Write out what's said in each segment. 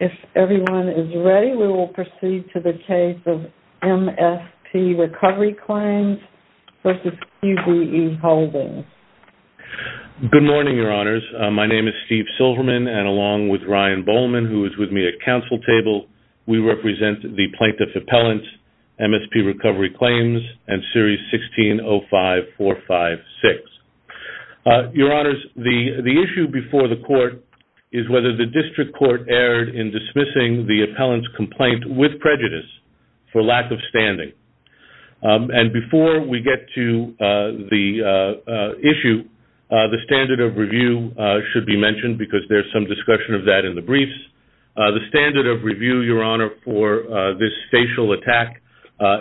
If everyone is ready, we will proceed to the case of MSP Recovery Claims v. QBE Holdings. Good morning, Your Honors. My name is Steve Silverman, and along with Ryan Bowman, who is with me at Council Table, we represent the Plaintiff Appellants, MSP Recovery Claims, and Series 1605456. Your Honors, the issue before the Court is whether the District Court erred in dismissing the appellant's complaint with prejudice for lack of standing. And before we get to the issue, the standard of review should be mentioned because there is some discussion of that in the briefs. The standard of review, Your Honor, for this facial attack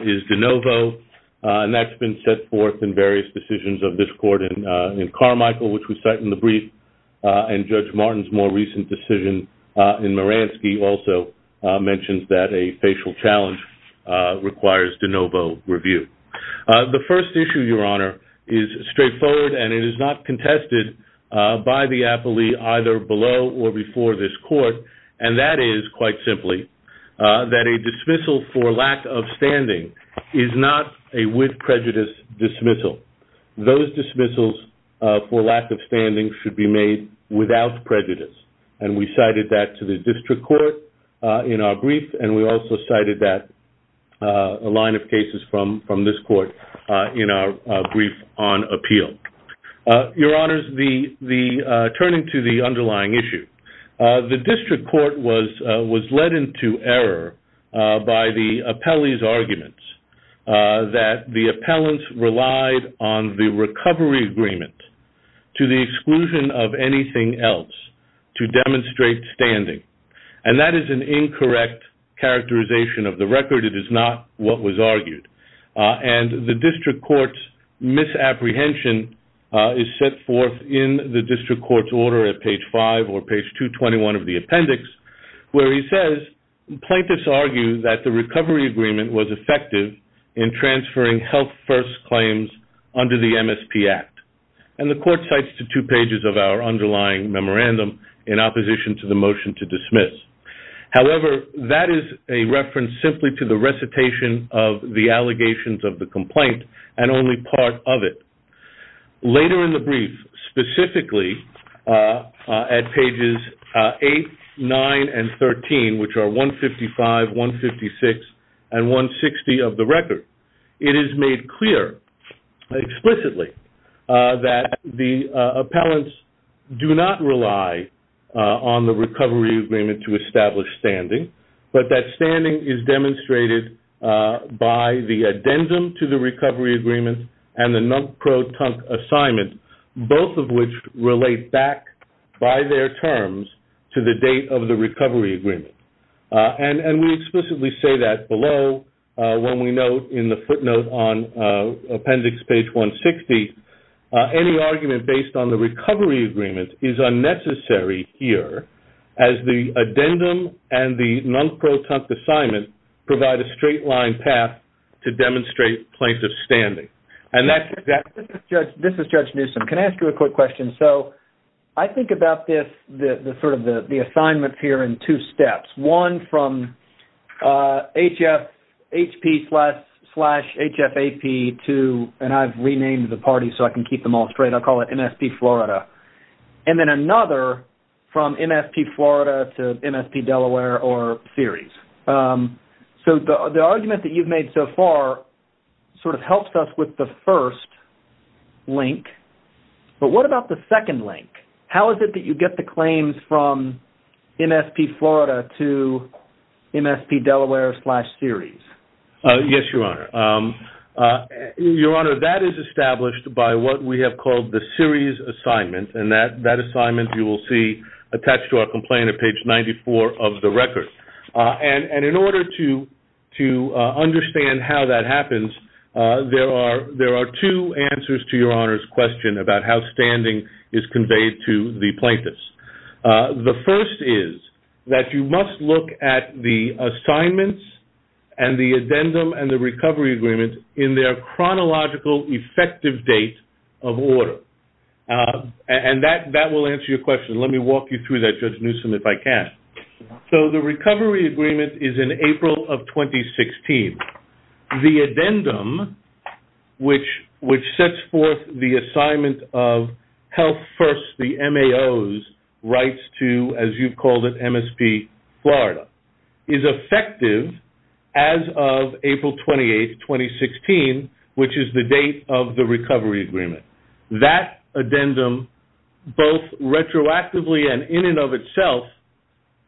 is de novo, and that's been set forth in various decisions of this Court in Carmichael, which we cite in the brief, and Judge Martin's more recent decision in Maransky also mentions that a facial challenge requires de novo review. The first issue, Your Honor, is straightforward, and it is not contested by the appellee either below or before this Court, and that is, quite simply, that a dismissal for lack of standing is not a with prejudice dismissal. Those dismissals for lack of standing should be made without prejudice, and we cited that to the District Court in our brief, and we also cited that line of cases from this Court in our brief on appeal. Your Honors, turning to the underlying issue, the District Court was led into error by the appellee's arguments that the appellants relied on the recovery agreement to the exclusion of anything else to demonstrate standing, and that is an incorrect characterization of the record. It is not what was argued. And the District Court's misapprehension is set forth in the District Court's order at page 5 or page 221 of the appendix, where he says, Plaintiffs argue that the recovery agreement was effective in transferring health-first claims under the MSP Act, and the Court cites the two pages of our underlying memorandum in opposition to the motion to dismiss. However, that is a reference simply to the recitation of the allegations of the complaint and only part of it. Later in the brief, specifically at pages 8, 9, and 13, which are 155, 156, and 160 of the record, it is made clear explicitly that the appellants do not rely on the recovery agreement to establish standing, but that standing is demonstrated by the addendum to the recovery agreement and the non-proton assignment, both of which relate back by their terms to the date of the recovery agreement. And we explicitly say that below when we note in the footnote on appendix page 160, any argument based on the recovery agreement is unnecessary here, as the addendum and the non-proton assignment provide a straight-line path to demonstrate plaintiff's standing. This is Judge Newsom. Can I ask you a quick question? So I think about this, sort of the assignments here, in two steps. One from H.P. slash H.F.A.P. to, and I've renamed the parties so I can keep them all straight. I'll call it MSP Florida. And then another from MSP Florida to MSP Delaware or series. So the argument that you've made so far sort of helps us with the first link, but what about the second link? How is it that you get the claims from MSP Florida to MSP Delaware slash series? Yes, Your Honor. Your Honor, that is established by what we have called the series assignment, and that assignment you will see attached to our complaint at page 94 of the record. And in order to understand how that happens, there are two answers to Your Honor's question about how standing is conveyed to the plaintiffs. The first is that you must look at the assignments and the addendum and the recovery agreement in their chronological effective date of order. And that will answer your question. Let me walk you through that, Judge Newsom, if I can. So the recovery agreement is in April of 2016. The addendum, which sets forth the assignment of health first, the MAOs, rights to, as you've called it, MSP Florida, is effective as of April 28, 2016, which is the date of the recovery agreement. That addendum, both retroactively and in and of itself,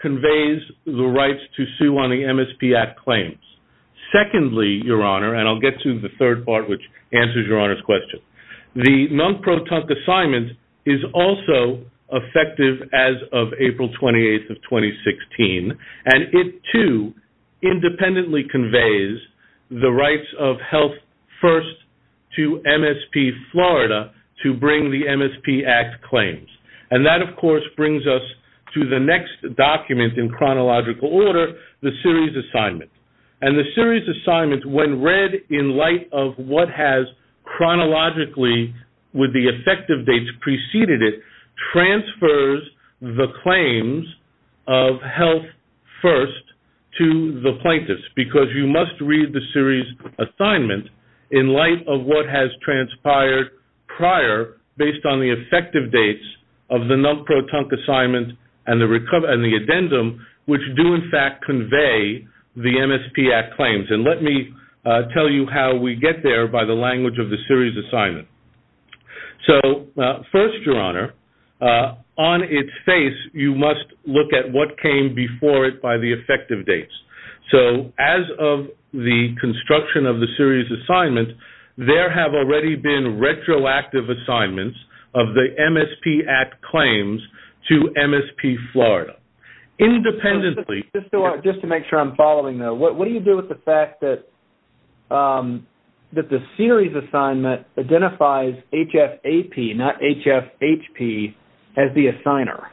conveys the rights to sue on the MSP Act claims. Secondly, Your Honor, and I'll get to the third part, which answers Your Honor's question, the non-proton assignment is also effective as of April 28, 2016, and it too independently conveys the rights of health first to MSP Florida to bring the MSP Act claims. And that, of course, brings us to the next document in chronological order, the series assignment. And the series assignment, when read in light of what has chronologically, with the effective dates preceded it, transfers the claims of health first to the plaintiffs, because you must read the series assignment in light of what has transpired prior, based on the effective dates of the non-proton assignment and the addendum, which do, in fact, convey the MSP Act claims. And let me tell you how we get there by the language of the series assignment. So first, Your Honor, on its face, you must look at what came before it by the effective dates. So as of the construction of the series assignment, there have already been retroactive assignments of the MSP Act claims to MSP Florida. Just to make sure I'm following, though, what do you do with the fact that the series assignment identifies HFAP, not HFHP, as the assigner?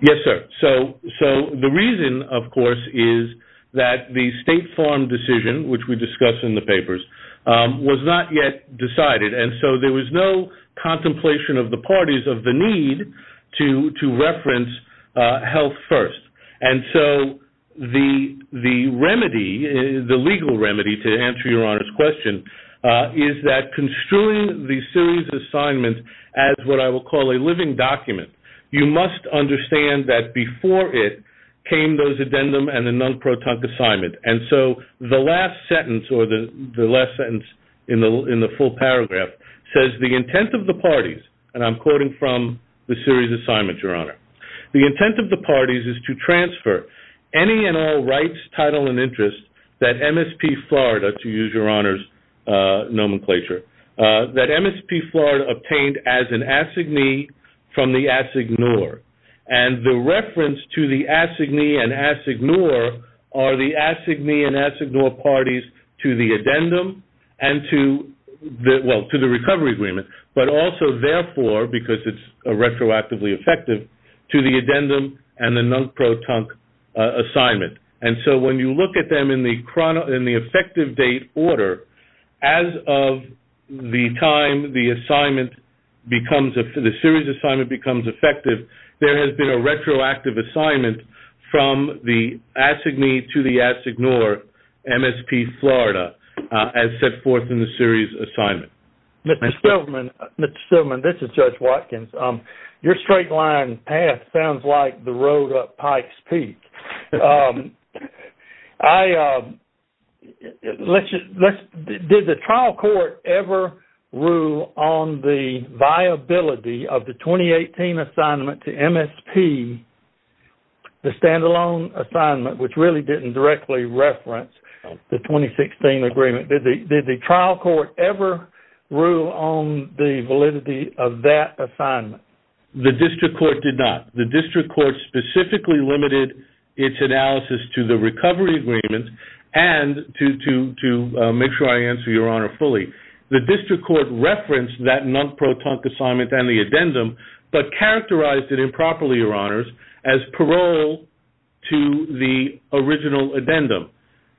Yes, sir. So the reason, of course, is that the State Farm decision, which we discuss in the papers, was not yet decided. And so there was no contemplation of the parties of the need to reference health first. And so the remedy, the legal remedy, to answer Your Honor's question, is that construing the series assignment as what I will call a living document, you must understand that before it came those addendum and the non-proton assignment. And so the last sentence or the last sentence in the full paragraph says the intent of the parties, and I'm quoting from the series assignment, Your Honor, the intent of the parties is to transfer any and all rights, title, and interests that MSP Florida, to use Your Honor's nomenclature, that MSP Florida obtained as an assignee from the assignor. And the reference to the assignee and assignor are the assignee and assignor parties to the addendum and to the recovery agreement, but also therefore, because it's retroactively effective, to the addendum and the non-proton assignment. And so when you look at them in the effective date order, as of the time the series assignment becomes effective, there has been a retroactive assignment from the assignee to the assignor, MSP Florida, as set forth in the series assignment. Mr. Stillman, this is Judge Watkins. Your straight line path sounds like the road up Pike's Peak. Yes. Did the trial court ever rule on the viability of the 2018 assignment to MSP, the standalone assignment, which really didn't directly reference the 2016 agreement? Did the trial court ever rule on the validity of that assignment? The district court did not. The district court specifically limited its analysis to the recovery agreement and to make sure I answer your honor fully. The district court referenced that non-proton assignment and the addendum, but characterized it improperly, your honors, as parole to the original addendum.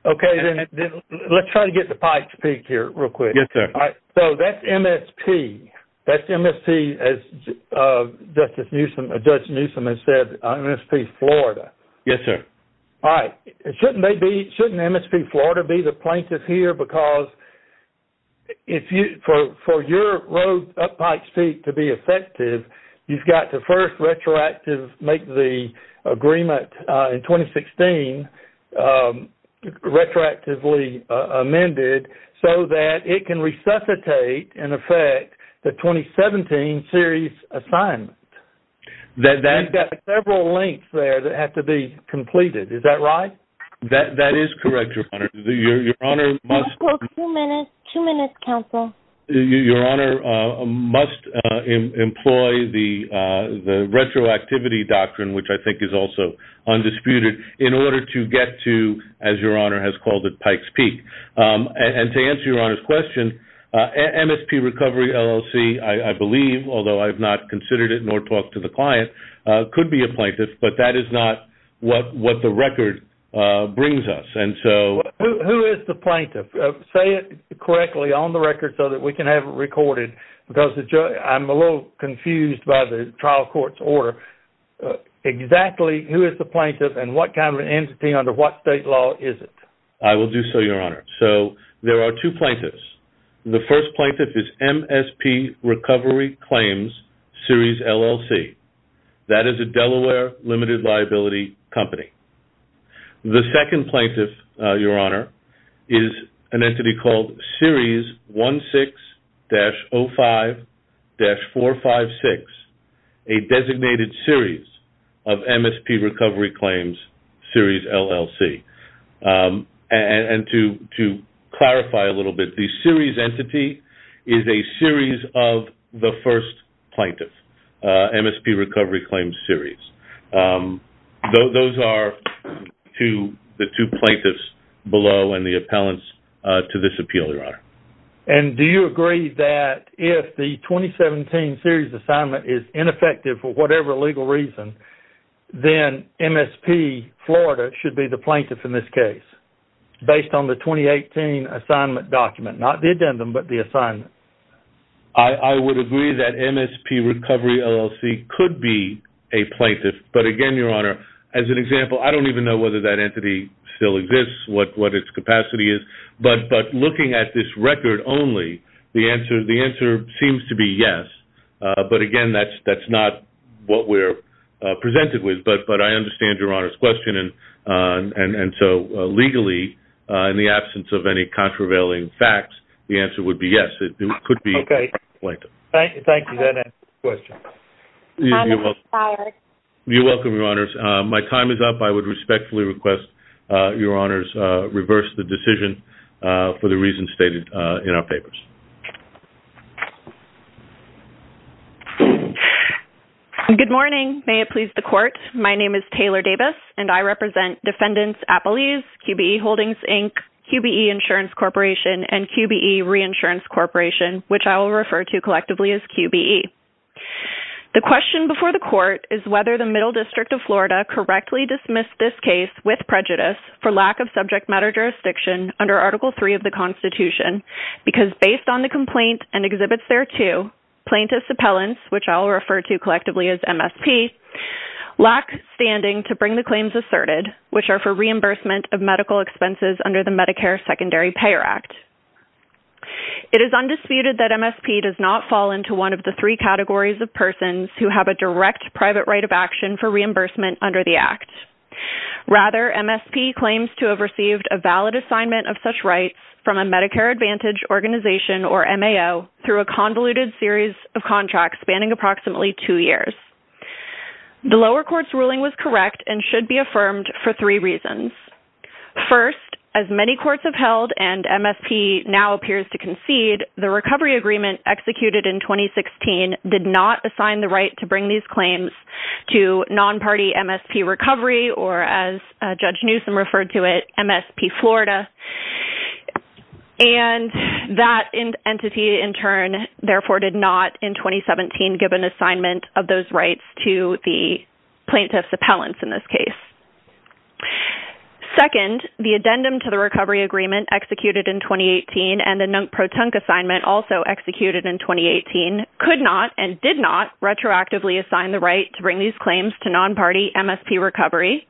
Okay. Let's try to get to Pike's Peak here real quick. Yes, sir. All right. So that's MSP. That's MSP, as Judge Newsom has said, MSP Florida. Yes, sir. All right. Shouldn't MSP Florida be the plaintiff here? Because for your road up Pike's Peak to be effective, you've got to first make the agreement in 2016 retroactively amended so that it can resuscitate, in effect, the 2017 series assignment. You've got several links there that have to be completed. Is that right? That is correct, your honor. Two minutes, counsel. Your honor must employ the retroactivity doctrine, which I think is also undisputed, in order to get to, as your honor has called it, Pike's Peak. And to answer your honor's question, MSP Recovery LLC, I believe, although I have not considered it nor talked to the client, could be a plaintiff, but that is not what the record brings us. Who is the plaintiff? Say it correctly on the record so that we can have it recorded, because I'm a little confused by the trial court's order. Exactly who is the plaintiff and what kind of entity under what state law is it? I will do so, your honor. So there are two plaintiffs. The first plaintiff is MSP Recovery Claims, Series LLC. That is a Delaware limited liability company. The second plaintiff, your honor, is an entity called Series 16-05-456, a designated series of MSP Recovery Claims, Series LLC. And to clarify a little bit, the series entity is a series of the first plaintiff, MSP Recovery Claims Series. Those are the two plaintiffs below and the appellants to this appeal, your honor. And do you agree that if the 2017 series assignment is ineffective for whatever legal reason, then MSP Florida should be the plaintiff in this case based on the 2018 assignment document, not the addendum, but the assignment? I would agree that MSP Recovery LLC could be a plaintiff, but again, your honor, as an example, I don't even know whether that entity still exists, what its capacity is, but looking at this record only, the answer seems to be yes. But again, that's not what we're presented with, but I understand your honor's question. And so legally, in the absence of any contravailing facts, the answer would be yes. It could be a plaintiff. Thank you. That answers the question. You're welcome, your honors. My time is up. I would respectfully request your honors reverse the decision for the reasons stated in our papers. Good morning. May it please the court. My name is Taylor Davis, and I represent Defendants Appellees, QBE Holdings, Inc., QBE Insurance Corporation, and QBE Reinsurance Corporation, which I will refer to collectively as QBE. The question before the court is whether the Middle District of Florida correctly dismissed this case with prejudice for lack of subject matter jurisdiction under Article III of the Constitution, because based on the complaint and exhibits thereto, plaintiffs' appellants, which I will refer to collectively as MSP, lack standing to bring the claims asserted, which are for reimbursement of medical expenses under the Medicare Secondary Payer Act. It is undisputed that MSP does not fall into one of the three categories of persons who have a direct private right of action for reimbursement under the Act. Rather, MSP claims to have received a valid assignment of such rights from a Medicare Advantage organization, or MAO, through a convoluted series of contracts spanning approximately two years. The lower court's ruling was correct and should be affirmed for three reasons. First, as many courts have held and MSP now appears to concede, the recovery agreement executed in 2016 did not assign the right to bring these claims to non-party MSP recovery, or as Judge Newsom referred to it, MSP Florida. And that entity, in turn, therefore did not, in 2017, give an assignment of those rights to the plaintiffs' appellants in this case. Second, the addendum to the recovery agreement executed in 2018 and the non-proton assignment also executed in 2018, could not and did not retroactively assign the right to bring these claims to non-party MSP recovery.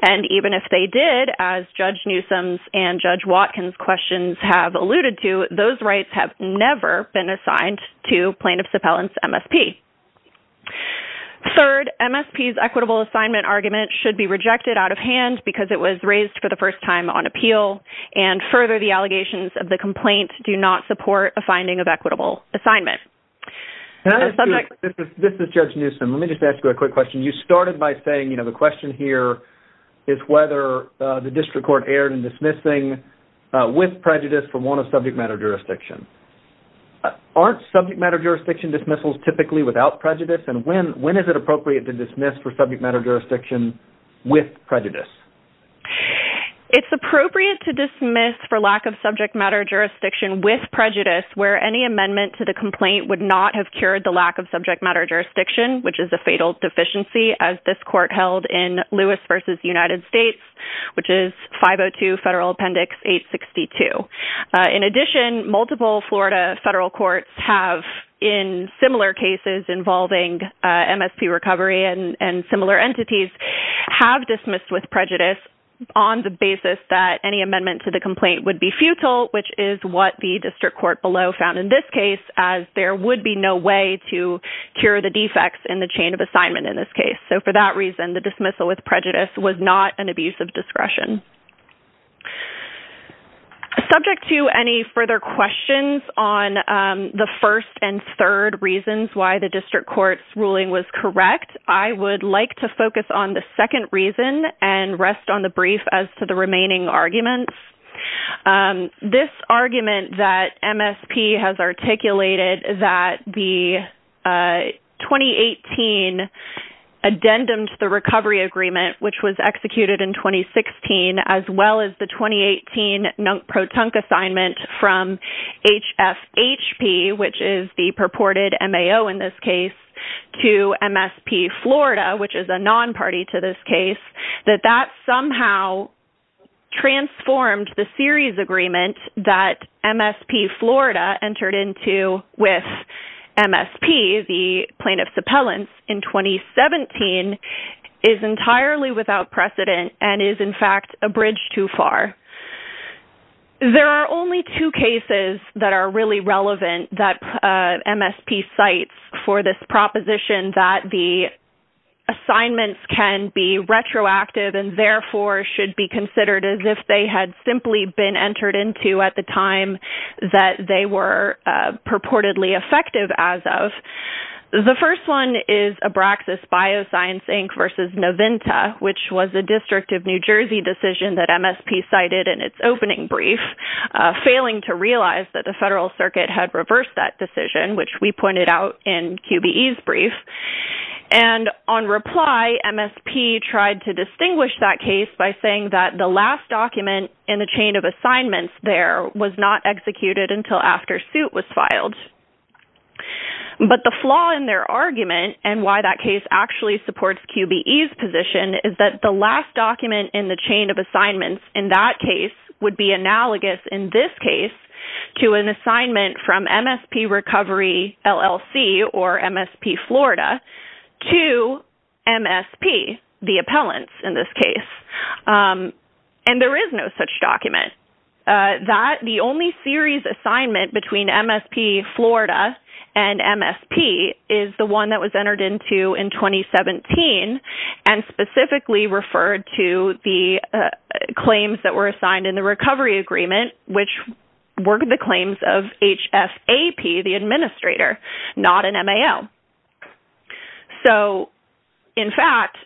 And even if they did, as Judge Newsom's and Judge Watkins' questions have alluded to, those rights have never been assigned to plaintiffs' appellants' MSP. Third, MSP's equitable assignment argument should be rejected out of hand because it was raised for the first time on appeal, and further, the allegations of the complaint do not support a finding of equitable assignment. This is Judge Newsom. Let me just ask you a quick question. You started by saying, you know, the question here is whether the district court erred in dismissing with prejudice from one of subject matter jurisdictions. Aren't subject matter jurisdiction dismissals typically without prejudice? And when is it appropriate to dismiss for subject matter jurisdiction with prejudice? It's appropriate to dismiss for lack of subject matter jurisdiction with prejudice where any amendment to the complaint would not have cured the lack of subject matter jurisdiction, which is a fatal deficiency, as this court held in Lewis v. United States, which is 502 Federal Appendix 862. In addition, multiple Florida federal courts have, in similar cases involving MSP recovery and similar entities, have dismissed with prejudice on the basis that any amendment to the complaint would be futile, which is what the district court below found in this case, as there would be no way to cure the defects in the chain of assignment in this case. So, for that reason, the dismissal with prejudice was not an abuse of discretion. Subject to any further questions on the first and third reasons why the district court's ruling was correct, I would like to focus on the second reason and rest on the brief as to the remaining arguments. This argument that MSP has articulated that the 2018 addendum to the recovery agreement, which was executed in 2016, as well as the 2018 NUNC-PROTUNC assignment from HFHP, which is the purported MAO in this case, to MSP Florida, which is a non-party to this case, that that somehow transformed the series agreement that MSP Florida entered into with MSP, the plaintiff's appellant, in 2017, is entirely without precedent and is, in fact, a bridge too far. There are only two cases that are really relevant that MSP cites for this proposition that the assignments can be retroactive and, therefore, should be considered as if they had simply been entered into at the time that they were purportedly effective as of. The first one is Abraxas Bioscience, Inc. v. Novinta, which was a District of New Jersey decision that MSP cited in its opening brief, failing to realize that the federal circuit had reversed that decision, which we pointed out in QBE's brief. And on reply, MSP tried to distinguish that case by saying that the last document in the chain of assignments there was not executed until after suit was filed. But the flaw in their argument and why that case actually supports QBE's position is that the last document in the chain of assignments in that case would be analogous, in this case, to an assignment from MSP Recovery LLC or MSP Florida to MSP, the appellant, in this case. And there is no such document. The only series assignment between MSP Florida and MSP is the one that was entered into in 2017 and specifically referred to the claims that were assigned in the recovery agreement, which were the claims of HFAP, the administrator, not an MAO. So, in fact,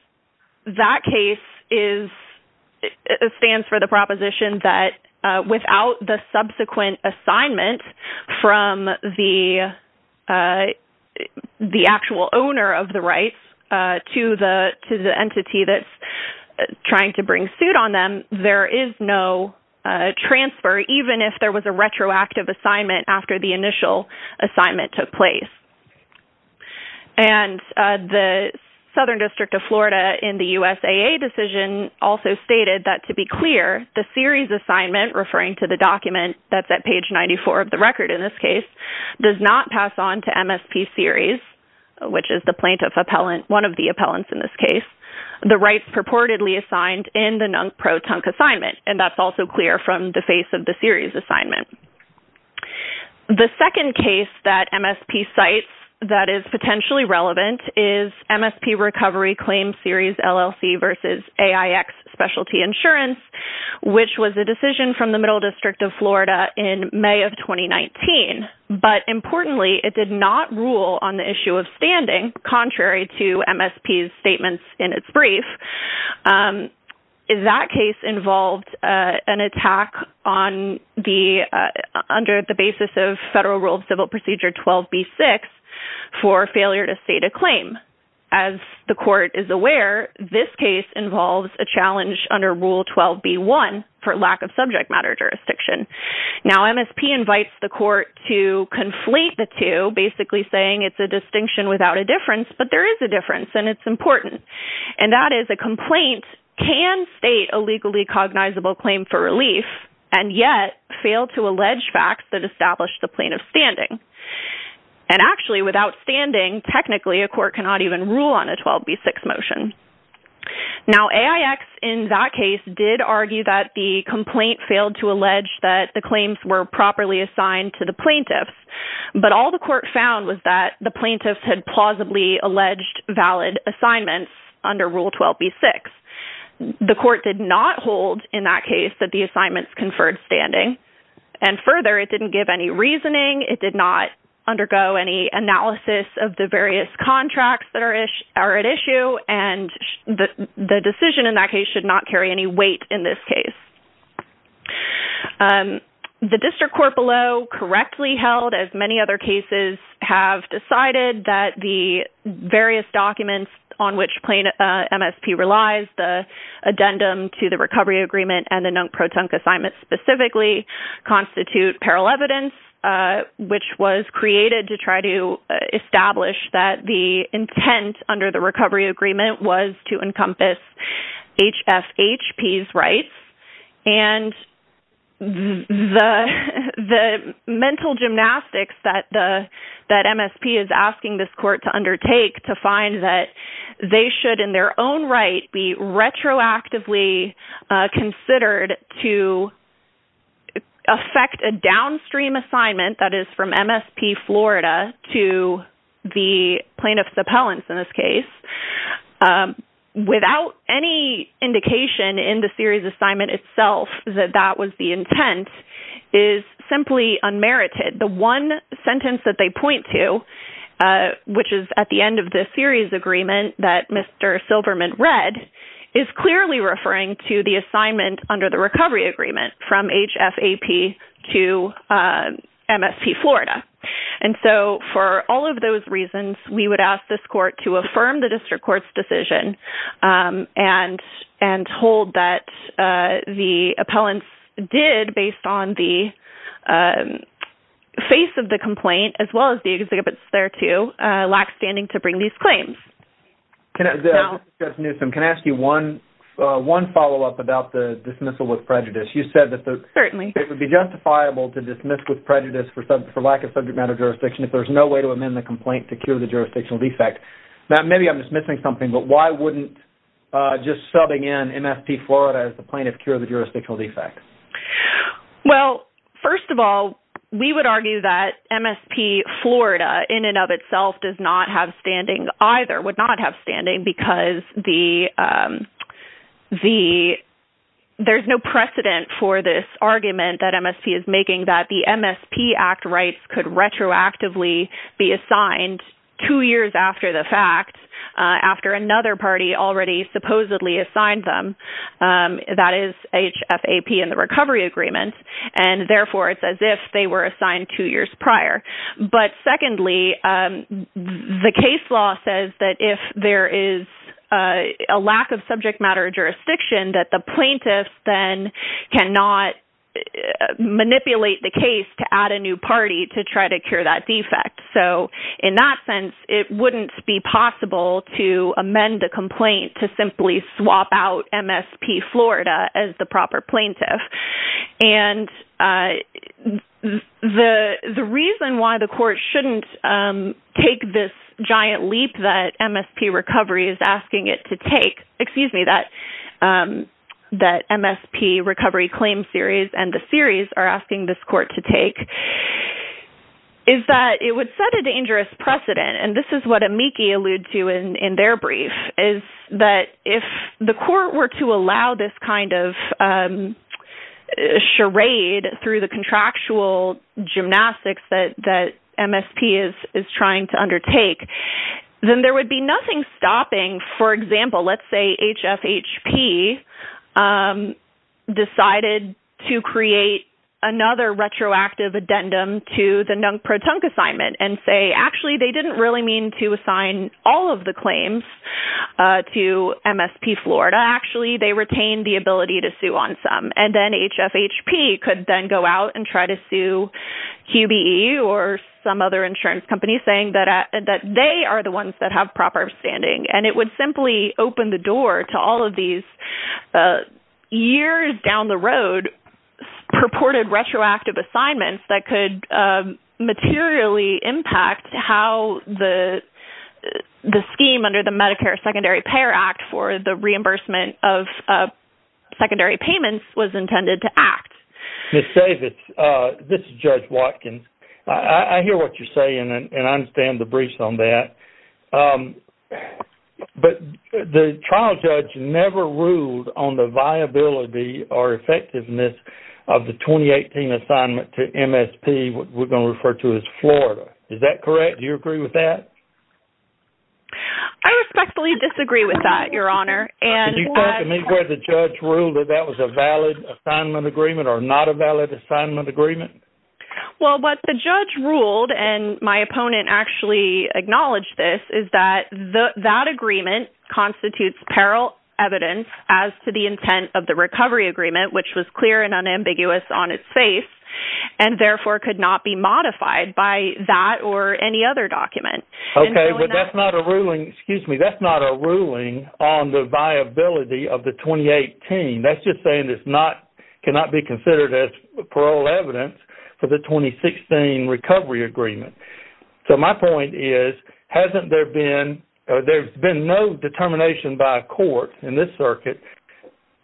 that case stands for the proposition that without the subsequent assignment from the actual owner of the rights to the entity that's trying to bring suit on them, there is no transfer, even if there was a retroactive assignment after the initial assignment took place. And the Southern District of Florida in the USAA decision also stated that, to be clear, the series assignment, referring to the document that's at page 94 of the record in this case, does not pass on to MSP Series, which is the plaintiff appellant, one of the appellants in this case, the rights purportedly assigned in the pro-tunk assignment. And that's also clear from the face of the series assignment. The second case that MSP cites that is potentially relevant is MSP Recovery Claim Series LLC versus AIX Specialty Insurance, which was a decision from the Middle District of Florida in May of 2019. But importantly, it did not rule on the issue of standing, contrary to MSP's statements in its brief. That case involved an attack under the basis of Federal Rule of Civil Procedure 12b-6 for failure to state a claim. As the court is aware, this case involves a challenge under Rule 12b-1 for lack of subject matter jurisdiction. Now, MSP invites the court to conflate the two, basically saying it's a distinction without a difference, but there is a difference, and it's important. And that is a complaint can state a legally cognizable claim for relief, and yet fail to allege facts that establish the plaintiff's standing. And actually, without standing, technically, a court cannot even rule on a 12b-6 motion. Now, AIX, in that case, did argue that the complaint failed to allege that the claims were properly assigned to the plaintiffs. But all the court found was that the plaintiffs had plausibly alleged valid assignments under Rule 12b-6. The court did not hold, in that case, that the assignments conferred standing. And further, it didn't give any reasoning, it did not undergo any analysis of the various contracts that are at issue, and the decision in that case should not carry any weight in this case. The district court below correctly held, as many other cases have decided, that the various documents on which MSP relies, the addendum to the recovery agreement, and the non-protunct assignment specifically, constitute parallel evidence, which was created to try to establish that the intent under the recovery agreement was to encompass HFHP's rights. And the mental gymnastics that MSP is asking this court to undertake to find that they should, in their own right, be retroactively considered to affect a downstream assignment, that is, from MSP Florida to the plaintiffs' appellants, in this case, without any indication in the series assignment itself that that was the intent, is simply unmerited. The one sentence that they point to, which is at the end of the series agreement that Mr. Silverman read, is clearly referring to the assignment under the recovery agreement from HFHP to MSP Florida. And so, for all of those reasons, we would ask this court to affirm the district court's decision and hold that the appellants did, based on the face of the complaint, as well as the exhibits thereto, lack standing to bring these claims. This is Judge Newsom. Can I ask you one follow-up about the dismissal with prejudice? You said that it would be justifiable to dismiss with prejudice for lack of subject matter jurisdiction if there's no way to amend the complaint to cure the jurisdictional defect. Now, maybe I'm dismissing something, but why wouldn't just subbing in MSP Florida as the plaintiff cure the jurisdictional defect? Well, first of all, we would argue that MSP Florida, in and of itself, does not have standing either, would not have standing because there's no precedent for this argument that MSP is making that the MSP Act rights could retroactively be assigned two years after the fact, after another party already supposedly assigned them. That is HFAP in the recovery agreement, and therefore it's as if they were assigned two years prior. But secondly, the case law says that if there is a lack of subject matter jurisdiction, that the plaintiff then cannot manipulate the case to add a new party to try to cure that defect. So in that sense, it wouldn't be possible to amend the complaint to simply swap out MSP Florida as the proper plaintiff. And the reason why the court shouldn't take this giant leap that MSP Recovery is asking it to take, excuse me, that MSP Recovery claim series and the series are asking this court to take, is that it would set a dangerous precedent. And this is what amici allude to in their brief, is that if the court were to allow this kind of charade through the contractual gymnastics that MSP is trying to undertake, then there would be nothing stopping, for example, let's say HFHP decided to create another retroactive addendum to the NUNC-PROTUNC assignment and say, actually, they didn't really mean to assign all of the claims to MSP Florida. Actually, they retained the ability to sue on some. And then HFHP could then go out and try to sue QBE or some other insurance company saying that they are the ones that have proper standing. And it would simply open the door to all of these years down the road purported retroactive assignments that could materially impact how the scheme under the Medicare Secondary Payer Act for the reimbursement of secondary payments was intended to act. Ms. Savitz, this is Judge Watkins. I hear what you're saying, and I understand the briefs on that. But the trial judge never ruled on the viability or effectiveness of the 2018 assignment to MSP, what we're going to refer to as Florida. Is that correct? Do you agree with that? I respectfully disagree with that, Your Honor. Could you point to me where the judge ruled that that was a valid assignment agreement or not a valid assignment agreement? Well, what the judge ruled, and my opponent actually acknowledged this, is that that agreement constitutes peril evidence as to the intent of the recovery agreement, which was clear and unambiguous on its face, and therefore could not be modified by that or any other document. Okay, but that's not a ruling on the viability of the 2018. That's just saying it cannot be considered as peril evidence for the 2016 recovery agreement. So my point is, there's been no determination by a court in this circuit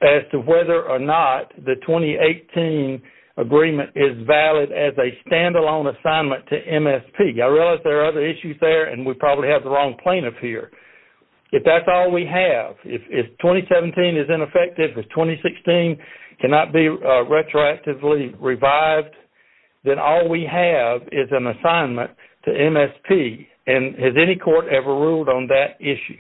as to whether or not the 2018 agreement is valid as a standalone assignment to MSP. I realize there are other issues there, and we probably have the wrong plaintiff here. If that's all we have, if 2017 is ineffective, if 2016 cannot be retroactively revived, then all we have is an assignment to MSP. And has any court ever ruled on that issue?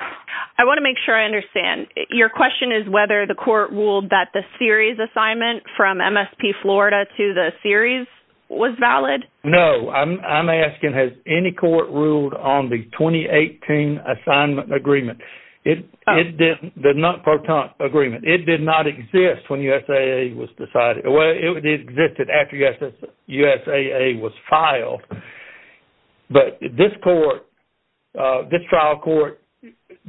I want to make sure I understand. Your question is whether the court ruled that the series assignment from MSP Florida to the series was valid? No, I'm asking, has any court ruled on the 2018 assignment agreement? The non-pertinent agreement. It did not exist when USAA was decided. Well, it existed after USAA was filed. But this trial court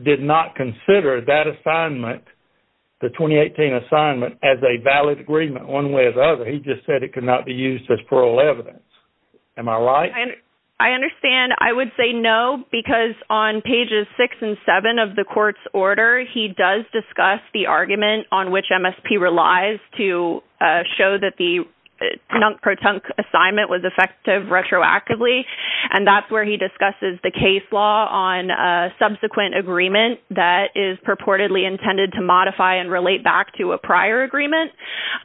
did not consider that assignment, the 2018 assignment, as a valid agreement one way or the other. He just said it could not be used as plural evidence. Am I right? I understand. I would say no, because on pages six and seven of the court's order, he does discuss the argument on which MSP relies to show that the non-pertinent assignment was effective retroactively. And that's where he discusses the case law on subsequent agreement that is purportedly intended to modify and relate back to a prior agreement.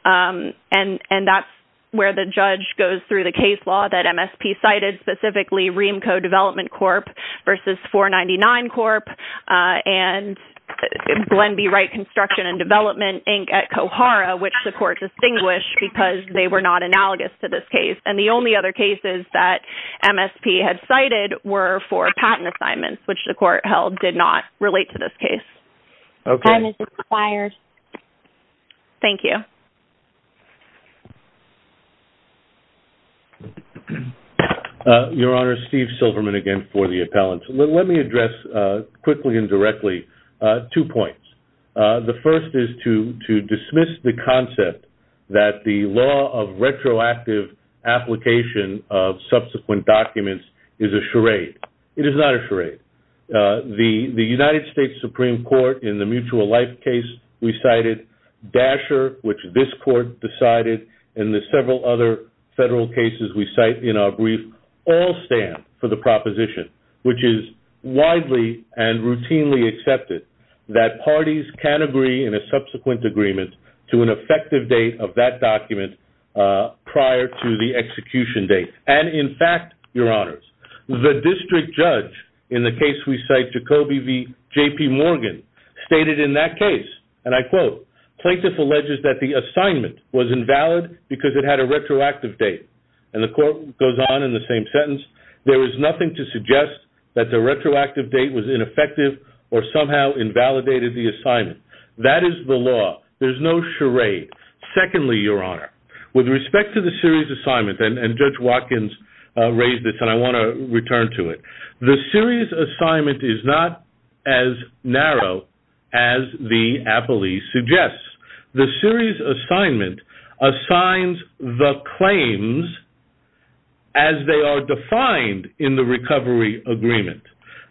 And that's where the judge goes through the case law that MSP cited, specifically REAMCO Development Corp. versus 499 Corp. and Glen B. Wright Construction and Development, Inc. at Kohara, which the court distinguished because they were not analogous to this case. And the only other cases that MSP had cited were for patent assignments, which the court held did not relate to this case. Okay. Time has expired. Thank you. Your Honor, Steve Silverman again for the appellant. Let me address quickly and directly two points. The first is to dismiss the concept that the law of retroactive application of subsequent documents is a charade. It is not a charade. The United States Supreme Court in the mutual life case we cited, Dasher, which this court decided, and the several other federal cases we cite in our brief all stand for the proposition, which is widely and routinely accepted that parties can agree in a subsequent agreement to an effective date of that document prior to the execution date. And in fact, Your Honors, the district judge in the case we cite, Jacoby V. J.P. Morgan, stated in that case, and I quote, Plaintiff alleges that the assignment was invalid because it had a retroactive date. And the court goes on in the same sentence. There is nothing to suggest that the retroactive date was ineffective or somehow invalidated the assignment. That is the law. There's no charade. Secondly, Your Honor, with respect to the series assignment, and Judge Watkins raised this and I want to return to it, the series assignment is not as narrow as the appellee suggests. The series assignment assigns the claims as they are defined in the recovery agreement.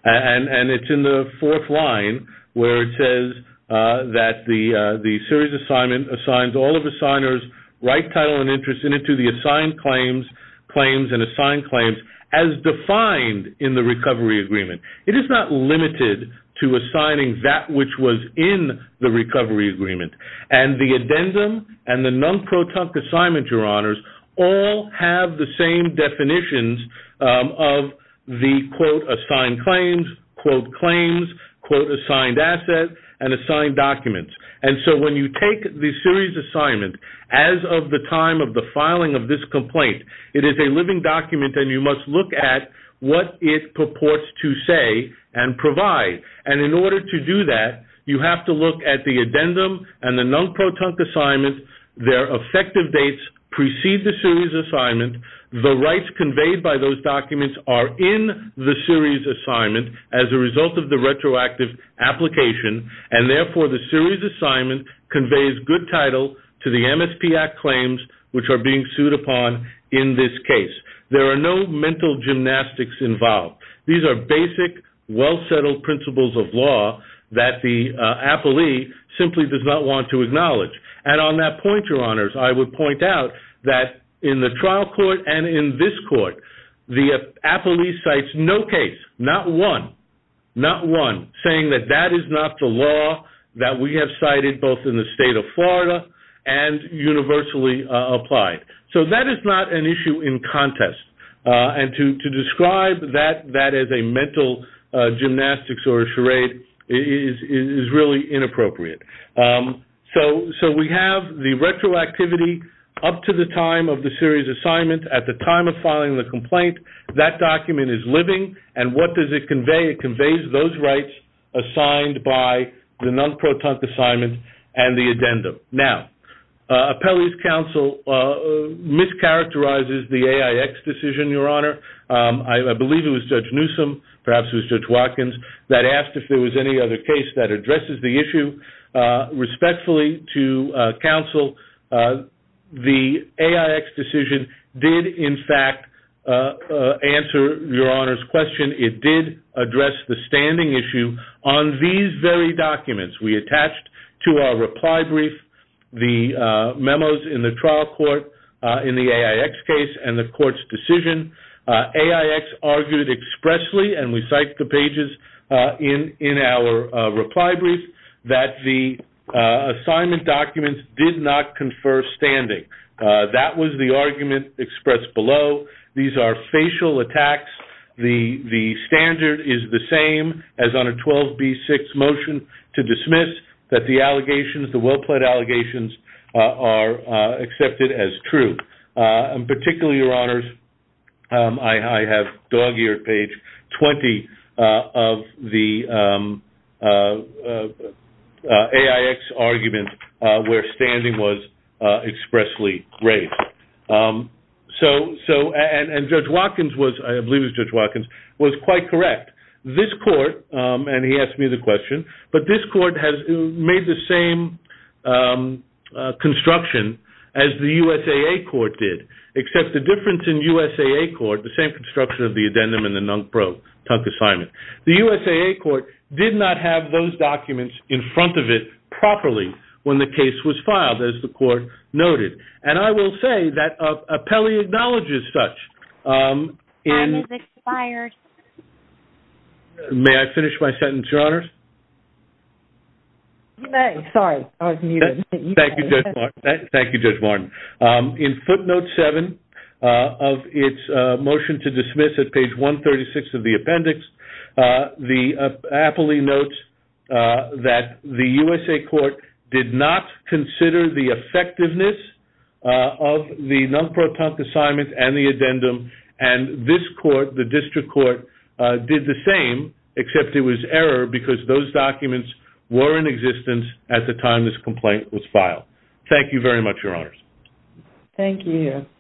And it's in the fourth line where it says that the series assignment assigns all of the signers' right title and interest in it to the assigned claims, claims and assigned claims, as defined in the recovery agreement. It is not limited to assigning that which was in the recovery agreement. And the addendum and the non-proton assignment, Your Honors, all have the same definitions of the, quote, assigned claims, quote, claims, quote, assigned assets and assigned documents. And so when you take the series assignment, as of the time of the filing of this complaint, it is a living document and you must look at what it purports to say and provide. And in order to do that, you have to look at the addendum and the non-proton assignment, their effective dates precede the series assignment, the rights conveyed by those documents are in the series assignment as a result of the retroactive application and, therefore, the series assignment conveys good title to the MSP Act claims, which are being sued upon in this case. There are no mental gymnastics involved. These are basic, well-settled principles of law that the appellee simply does not want to acknowledge. And on that point, Your Honors, I would point out that in the trial court and in this court the appellee cites no case, not one, not one, saying that that is not the law that we have cited both in the State of Florida and universally applied. So that is not an issue in contest. And to describe that as a mental gymnastics or a charade is really inappropriate. So we have the retroactivity up to the time of the series assignment. At the time of filing the complaint, that document is living. And what does it convey? It conveys those rights assigned by the non-proton assignment and the addendum. Now, appellee's counsel mischaracterizes the AIX decision, Your Honor. I believe it was Judge Newsom, perhaps it was Judge Watkins, that asked if there was any other case that addresses the issue respectfully to counsel. The AIX decision did, in fact, answer Your Honor's question. It did address the standing issue on these very documents. We attached to our reply brief the memos in the trial court in the AIX case and the court's decision. AIX argued expressly, and we cite the pages in our reply brief, that the assignment documents did not confer standing. That was the argument expressed below. These are facial attacks. The standard is the same as on a 12B6 motion to dismiss that the allegations, the well-plead allegations, are accepted as true. Particularly, Your Honors, I have dog-eared page 20 of the AIX argument where standing was expressly raised. And Judge Watkins was, I believe it was Judge Watkins, was quite correct. This court, and he asked me the question, but this court has made the same construction as the USAA court did, except the difference in USAA court, the same construction of the addendum and the NUNCPRO Tuck assignment, the USAA court did not have those documents in front of it properly when the case was filed, as the court noted. And I will say that Appelli acknowledges such. Time has expired. May I finish my sentence, Your Honors? You may. Sorry, I was muted. Thank you, Judge Martin. In footnote 7 of its motion to dismiss at page 136 of the appendix, Appelli notes that the USAA court did not consider the effectiveness of the NUNCPRO Tuck assignment and the addendum, and this court, the district court, did the same, except it was error because those documents were in existence at the time this complaint was filed. Thank you very much, Your Honors. Thank you.